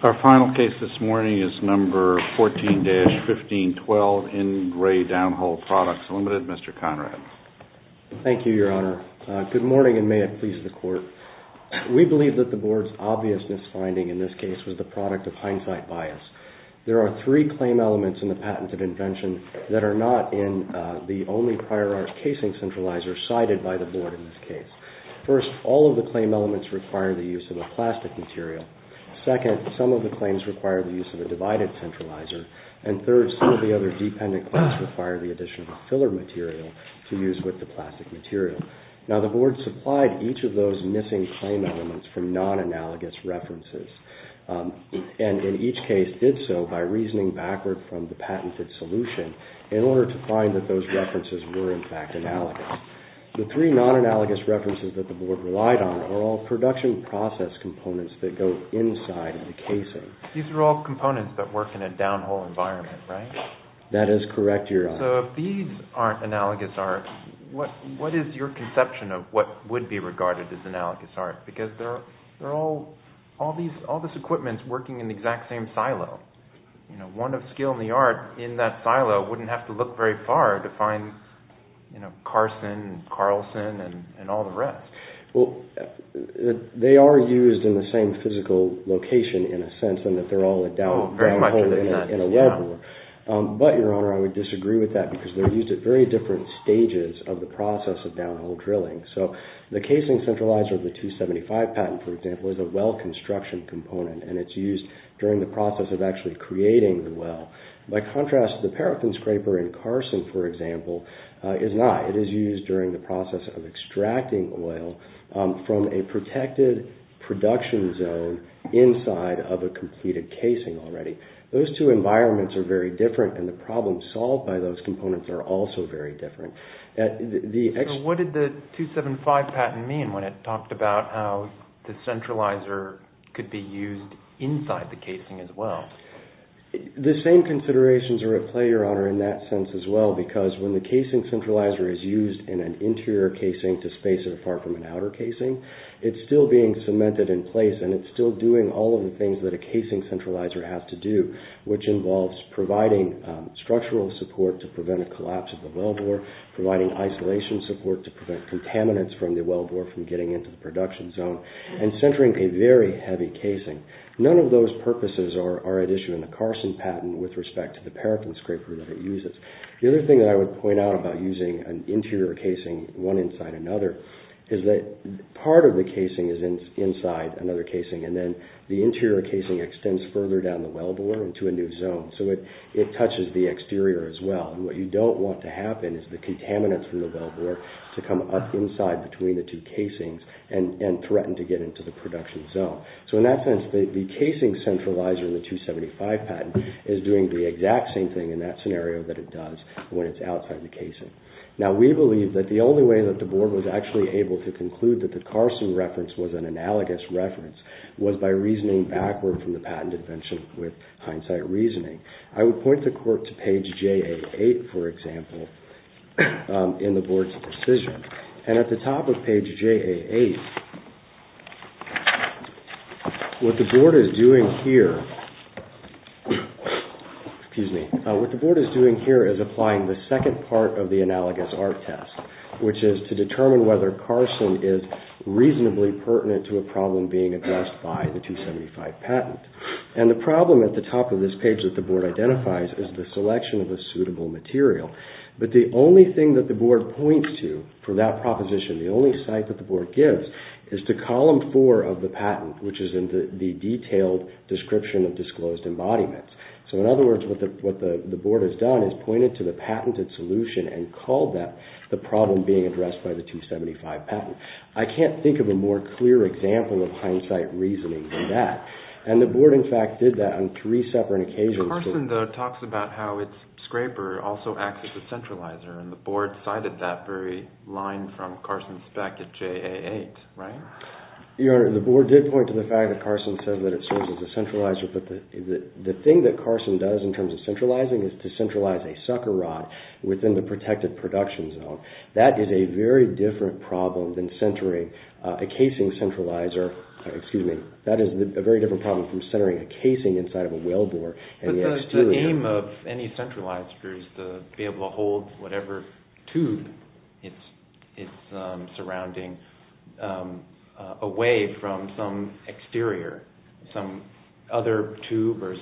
Our final case this morning is No. 14-1512 in Re Downhole Products, Ltd., Mr. Conrad. Thank you, Your Honor. Good morning, and may it please the Court. We believe that the Board's obvious misfinding in this case was the product of hindsight bias. There are three claim elements in the patented invention that are not in the only prior art casing centralizer cited by the Board in this case. First, all of the claim elements require the use of a plastic material. Second, some of the claims require the use of a divided centralizer. And third, some of the other dependent claims require the addition of a filler material to use with the plastic material. Now, the Board supplied each of those missing claim elements from non-analogous references, and in each case did so by reasoning backward from the patented solution in order to find that those references were, in fact, analogous. The three non-analogous references that the Board relied on are all production process components that go inside the casing. These are all components that work in a downhole environment, right? That is correct, Your Honor. So if these aren't analogous art, what is your conception of what would be regarded as analogous art? Because they're all this equipment working in the exact same silo. One of skill in the art in that silo wouldn't have to look very far to find Carson and Carlson and all the rest. Well, they are used in the same physical location in a sense in that they're all a downhole in a level. But, Your Honor, I would disagree with that because they're used at very different stages of the process of downhole drilling. So the casing centralizer of the 275 patent, for example, is a well construction component, and it's used during the process of actually creating the well. By contrast, the paraffin scraper in Carson, for example, is not. It is used during the process of extracting oil from a protected production zone inside of a completed casing already. Those two environments are very different, and the problems solved by those components are also very different. So what did the 275 patent mean when it talked about how the centralizer could be used inside the casing as well? The same considerations are at play, Your Honor, in that sense as well, because when the casing centralizer is used in an interior casing to space it apart from an outer casing, it's still being cemented in place, and it's still doing all of the things that a casing centralizer has to do, which involves providing structural support to prevent a collapse of the wellbore, providing isolation support to prevent contaminants from the wellbore from getting into the production zone, and centering a very heavy casing. None of those purposes are at issue in the Carson patent with respect to the paraffin scraper that it uses. The other thing that I would point out about using an interior casing, one inside another, is that part of the casing is inside another casing, and then the interior casing extends further down the wellbore into a new zone, so it touches the exterior as well, and what you don't want to happen is the contaminants from the wellbore to come up inside between the two casings and threaten to get into the production zone. So in that sense, the casing centralizer in the 275 patent is doing the exact same thing in that scenario that it does when it's outside the casing. Now, we believe that the only way that the Board was actually able to conclude that the Carson reference was an analogous reference was by reasoning backward from the patent invention with hindsight reasoning. I would point the Court to page JA8, for example, in the Board's decision, and at the top of page JA8, what the Board is doing here is applying the second part of the analogous art test, which is to determine whether Carson is reasonably pertinent to a problem being addressed by the 275 patent. And the problem at the top of this page that the Board identifies is the selection of a suitable material, but the only thing that the Board points to for that proposition, the only cite that the Board gives, is to column four of the patent, which is in the detailed description of disclosed embodiments. So in other words, what the Board has done is pointed to the patented solution and called that the problem being addressed by the 275 patent. I can't think of a more clear example of hindsight reasoning than that. And the Board, in fact, did that on three separate occasions. Carson, though, talks about how its scraper also acts as a centralizer, and the Board cited that very line from Carson's spec at JA8, right? Your Honor, the Board did point to the fact that Carson said that it serves as a centralizer, but the thing that Carson does in terms of centralizing is to centralize a sucker rod within the protected production zone. That is a very different problem than centering a casing centralizer, excuse me, that is a very different problem from centering a casing inside of a whale bore. But the aim of any centralizer is to be able to hold whatever tube it's surrounding away from some exterior, some other tube or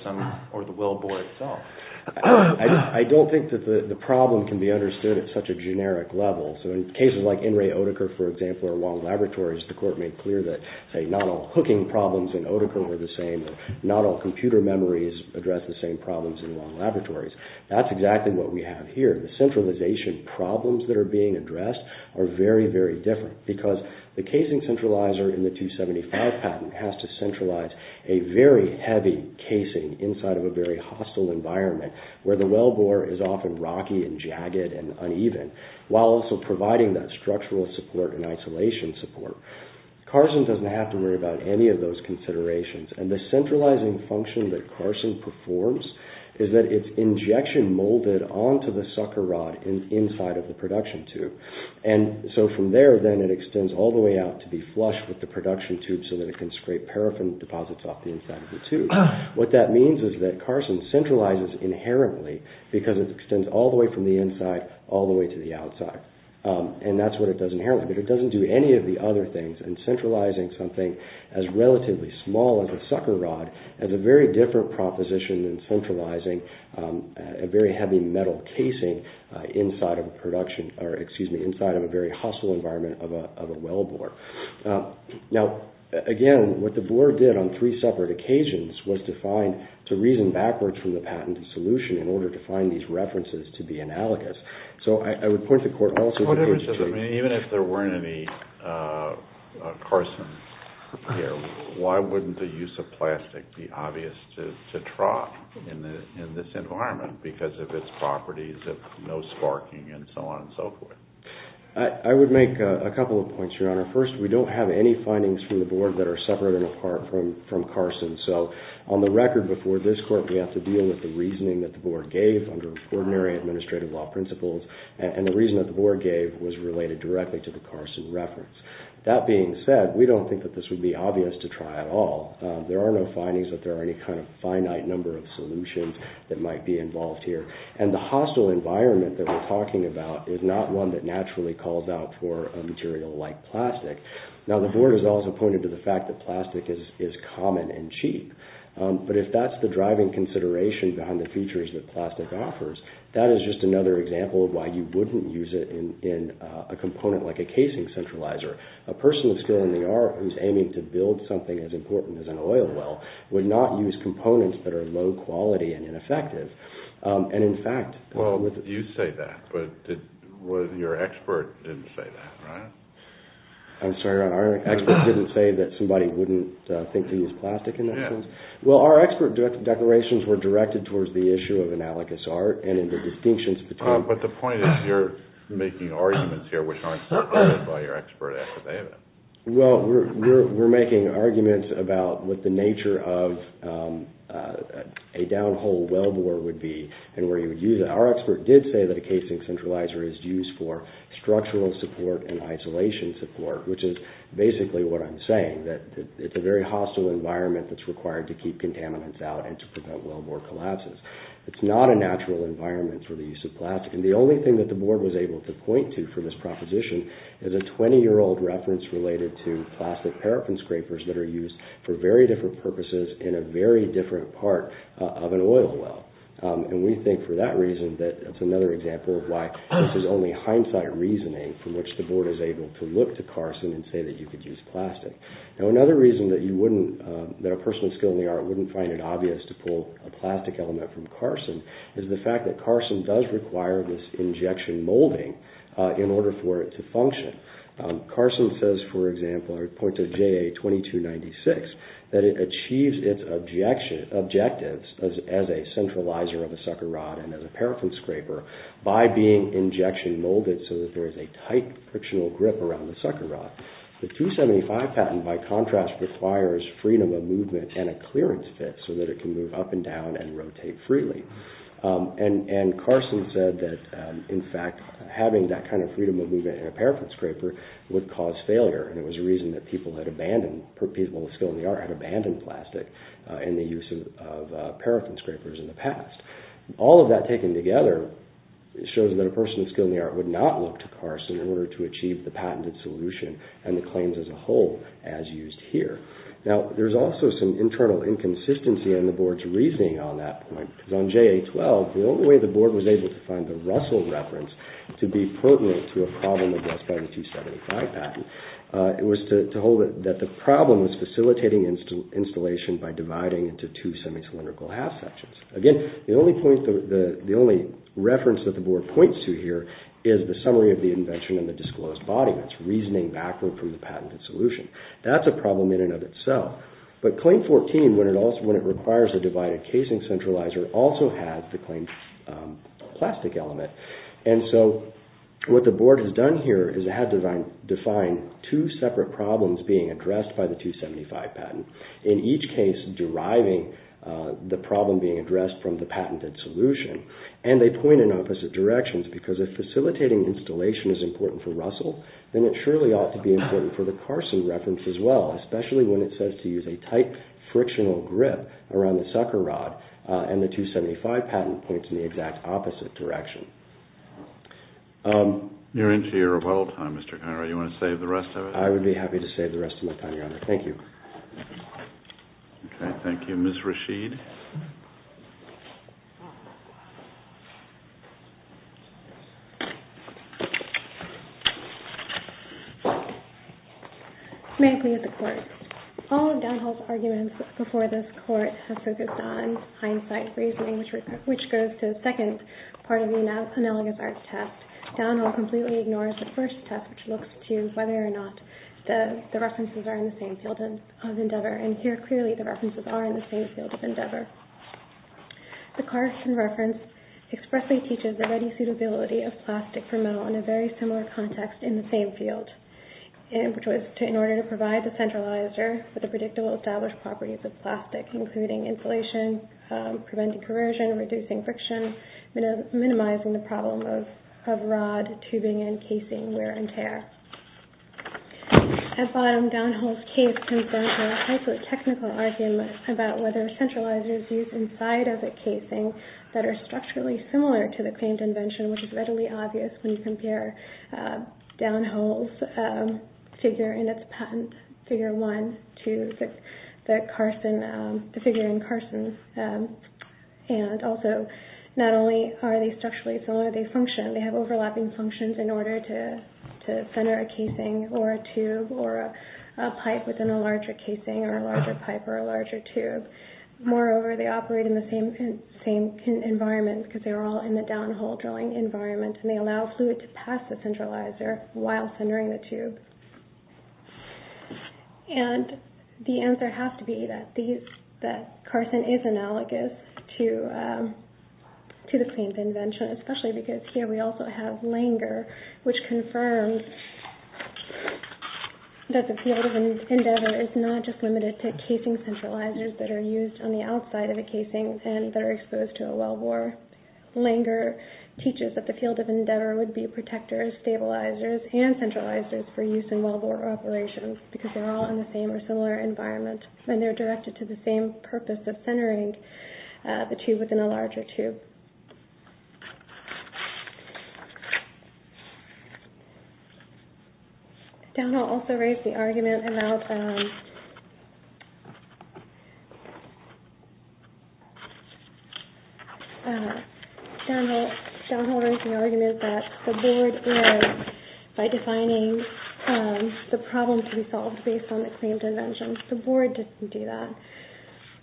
the whale bore itself. I don't think that the problem can be understood at such a generic level. So in cases like In re Otiker, for example, or Wong Laboratories, the Court made clear that, say, not all hooking problems in Otiker were the same, not all computer memories address the same problems in Wong Laboratories. That's exactly what we have here. The centralization problems that are being addressed are very, very different because the casing centralizer in the 275 patent has to centralize a very heavy casing inside of a very hostile environment where the whale bore is often rocky and jagged and uneven while also providing that structural support and isolation support. Carson doesn't have to worry about any of those considerations, and the centralizing function that Carson performs is that it's injection molded onto the sucker rod inside of the production tube. And so from there then it extends all the way out to be flush with the production tube so that it can scrape paraffin deposits off the inside of the tube. What that means is that Carson centralizes inherently because it extends all the way from the inside all the way to the outside. And that's what it does inherently, but it doesn't do any of the other things. And centralizing something as relatively small as a sucker rod has a very different proposition than centralizing a very heavy metal casing inside of a very hostile environment of a whale bore. Now, again, what the bore did on three separate occasions was to reason backwards from the patented solution in order to find these references to be analogous. So I would point the court also to… Because, I mean, even if there weren't any Carsons here, why wouldn't the use of plastic be obvious to Trott in this environment because of its properties of no sparking and so on and so forth? I would make a couple of points, Your Honor. First, we don't have any findings from the board that are separate and apart from Carson's. So on the record before this court, we have to deal with the reasoning that the board gave under ordinary administrative law principles, and the reason that the board gave was related directly to the Carson reference. That being said, we don't think that this would be obvious to Trott at all. There are no findings that there are any kind of finite number of solutions that might be involved here. And the hostile environment that we're talking about is not one that naturally calls out for a material like plastic. Now, the board has also pointed to the fact that plastic is common and cheap. But if that's the driving consideration behind the features that plastic offers, that is just another example of why you wouldn't use it in a component like a casing centralizer. A person with skill in the art who's aiming to build something as important as an oil well would not use components that are low quality and ineffective. And, in fact— Well, you say that, but your expert didn't say that, right? I'm sorry, Your Honor. Our expert didn't say that somebody wouldn't think to use plastic in that sense? Yeah. Well, our expert declarations were directed towards the issue of analogous art and in the distinctions between— But the point is you're making arguments here which aren't supported by your expert affidavit. Well, we're making arguments about what the nature of a downhole wellbore would be and where you would use it. Our expert did say that a casing centralizer is used for structural support and isolation support, which is basically what I'm saying, that it's a very hostile environment that's required to keep contaminants out and to prevent wellbore collapses. It's not a natural environment for the use of plastic, and the only thing that the Board was able to point to for this proposition is a 20-year-old reference related to plastic paraffin scrapers that are used for very different purposes in a very different part of an oil well. And we think for that reason that it's another example of why this is only hindsight reasoning from which the Board is able to look to Carson and say that you could use plastic. Now, another reason that you wouldn't—that a person with skill in the art wouldn't find it obvious to pull a plastic element from Carson is the fact that Carson does require this injection molding in order for it to function. Carson says, for example, or points at JA-2296, that it achieves its objectives as a centralizer of a sucker rod and as a paraffin scraper by being injection molded so that there is a tight frictional grip around the sucker rod. The 275 patent, by contrast, requires freedom of movement and a clearance fit so that it can move up and down and rotate freely. And Carson said that, in fact, having that kind of freedom of movement in a paraffin scraper would cause failure, and it was a reason that people with skill in the art had abandoned plastic in the use of paraffin scrapers in the past. All of that taken together shows that a person with skill in the art would not look to Carson in order to achieve the patented solution and the claims as a whole as used here. Now, there's also some internal inconsistency in the Board's reasoning on that point, because on JA-12, the only way the Board was able to find the Russell reference to be pertinent to a problem addressed by the 275 patent was to hold that the problem was facilitating installation by dividing into two semi-cylindrical half sections. Again, the only reference that the Board points to here is the summary of the invention in the disclosed body. That's reasoning backward from the patented solution. That's a problem in and of itself. But Claim 14, when it requires a divided casing centralizer, also has the claimed plastic element. And so what the Board has done here is it has defined two separate problems being addressed by the 275 patent, in each case deriving the problem being addressed from the patented solution. And they point in opposite directions, because if facilitating installation is important for Russell, then it surely ought to be important for the Carson reference as well, especially when it says to use a tight, frictional grip around the sucker rod, and the 275 patent points in the exact opposite direction. You're into your rebuttal time, Mr. Conroy. Do you want to save the rest of it? I would be happy to save the rest of my time, Your Honor. Thank you. Okay, thank you. Ms. Rasheed. May I plead with the Court? All of Downhill's arguments before this Court have focused on hindsight reasoning, which goes to the second part of the analogous art test. Downhill completely ignores the first test, which looks to whether or not the references are in the same field of endeavor, and here clearly the references are in the same field of endeavor. The Carson reference expressly teaches the ready suitability of plastic for metal in a very similar context in the same field, which was in order to provide the centralizer for the predictable established properties of plastic, including insulation, preventing corrosion, reducing friction, minimizing the problem of rod, tubing, and casing wear and tear. At bottom, Downhill's case confronts a highly technical argument about whether centralizers used inside of a casing that are structurally similar to the claimed invention, which is readily obvious when you compare Downhill's figure in its patent, figure one, to the Carson, the figure in Carson's, and also not only are they structurally similar, they function. They have overlapping functions in order to center a casing or a tube or a pipe within a larger casing or a larger pipe or a larger tube. Moreover, they operate in the same environment because they are all in the Downhill drilling environment, and they allow fluid to pass the centralizer while centering the tube. The answer has to be that Carson is analogous to the claimed invention, especially because here we also have Langer, which confirms that the field of endeavor is not just limited to casing centralizers that are used on the outside of a casing and that are exposed to a well bore. Langer teaches that the field of endeavor would be protectors, stabilizers, and centralizers for use in well bore operations because they're all in the same or similar environment and they're directed to the same purpose of centering the tube within a larger tube. Downhill also raised the argument about Downhill raised the argument that the board was, by defining the problem to be solved based on the claimed invention, the board didn't do that.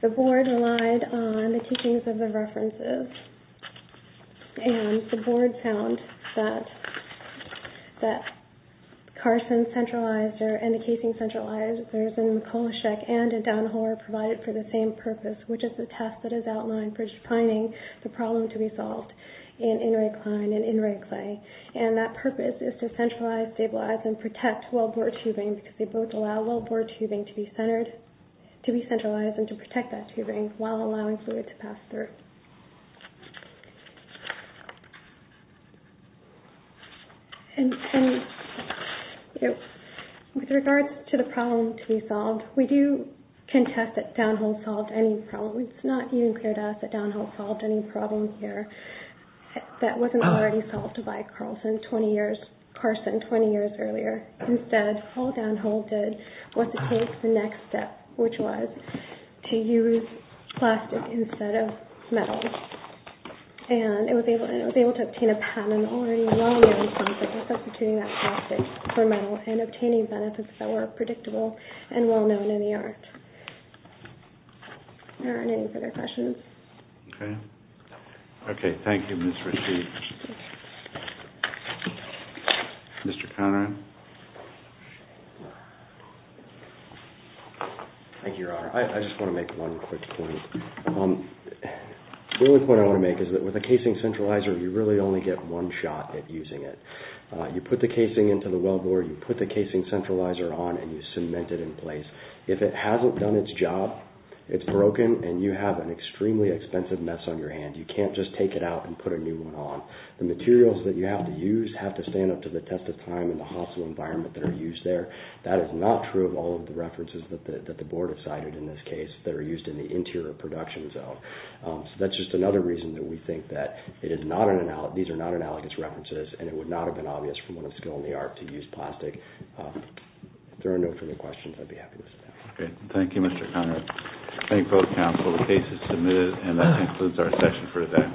The board relied on the teachings of the references and the board found that Carson's centralizer and the casing centralizers in Mikolajczyk and in Downhill are provided for the same purpose, which is the test that is outlined for defining the problem to be solved in Inri Klein and in Inri Clay. That purpose is to centralize, stabilize, and protect well bore tubing because they both allow well bore tubing to be centralized and to protect that tubing while allowing fluid to pass through. With regards to the problem to be solved, we do contest that Downhill solved any problem. It's not even clear to us that Downhill solved any problem here that wasn't already solved by Carson 20 years earlier. Instead, all Downhill did was to take the next step, which was to use plastic instead of metal. And it was able to obtain a patent already a long time ago by substituting that plastic for metal and obtaining benefits that were predictable and well known in the art. Are there any further questions? Okay, thank you, Ms. Rasheed. Mr. Conrad? Thank you, Your Honor. I just want to make one quick point. The only point I want to make is that with a casing centralizer, you really only get one shot at using it. You put the casing into the well bore, you put the casing centralizer on, and you cement it in place. If it hasn't done its job, it's broken, and you have an extremely expensive mess on your hand. You can't just take it out and put a new one on. The materials that you have to use have to stand up to the test of time and the hostile environment that are used there. That is not true of all of the references that the Board has cited in this case that are used in the interior production zone. So that's just another reason that we think that these are not analogous references and it would not have been obvious from a skill in the art to use plastic. If there are no further questions, I'd be happy to sit down. Okay, thank you, Mr. Conrad. Thank both counsel. The case is submitted and that concludes our session for today.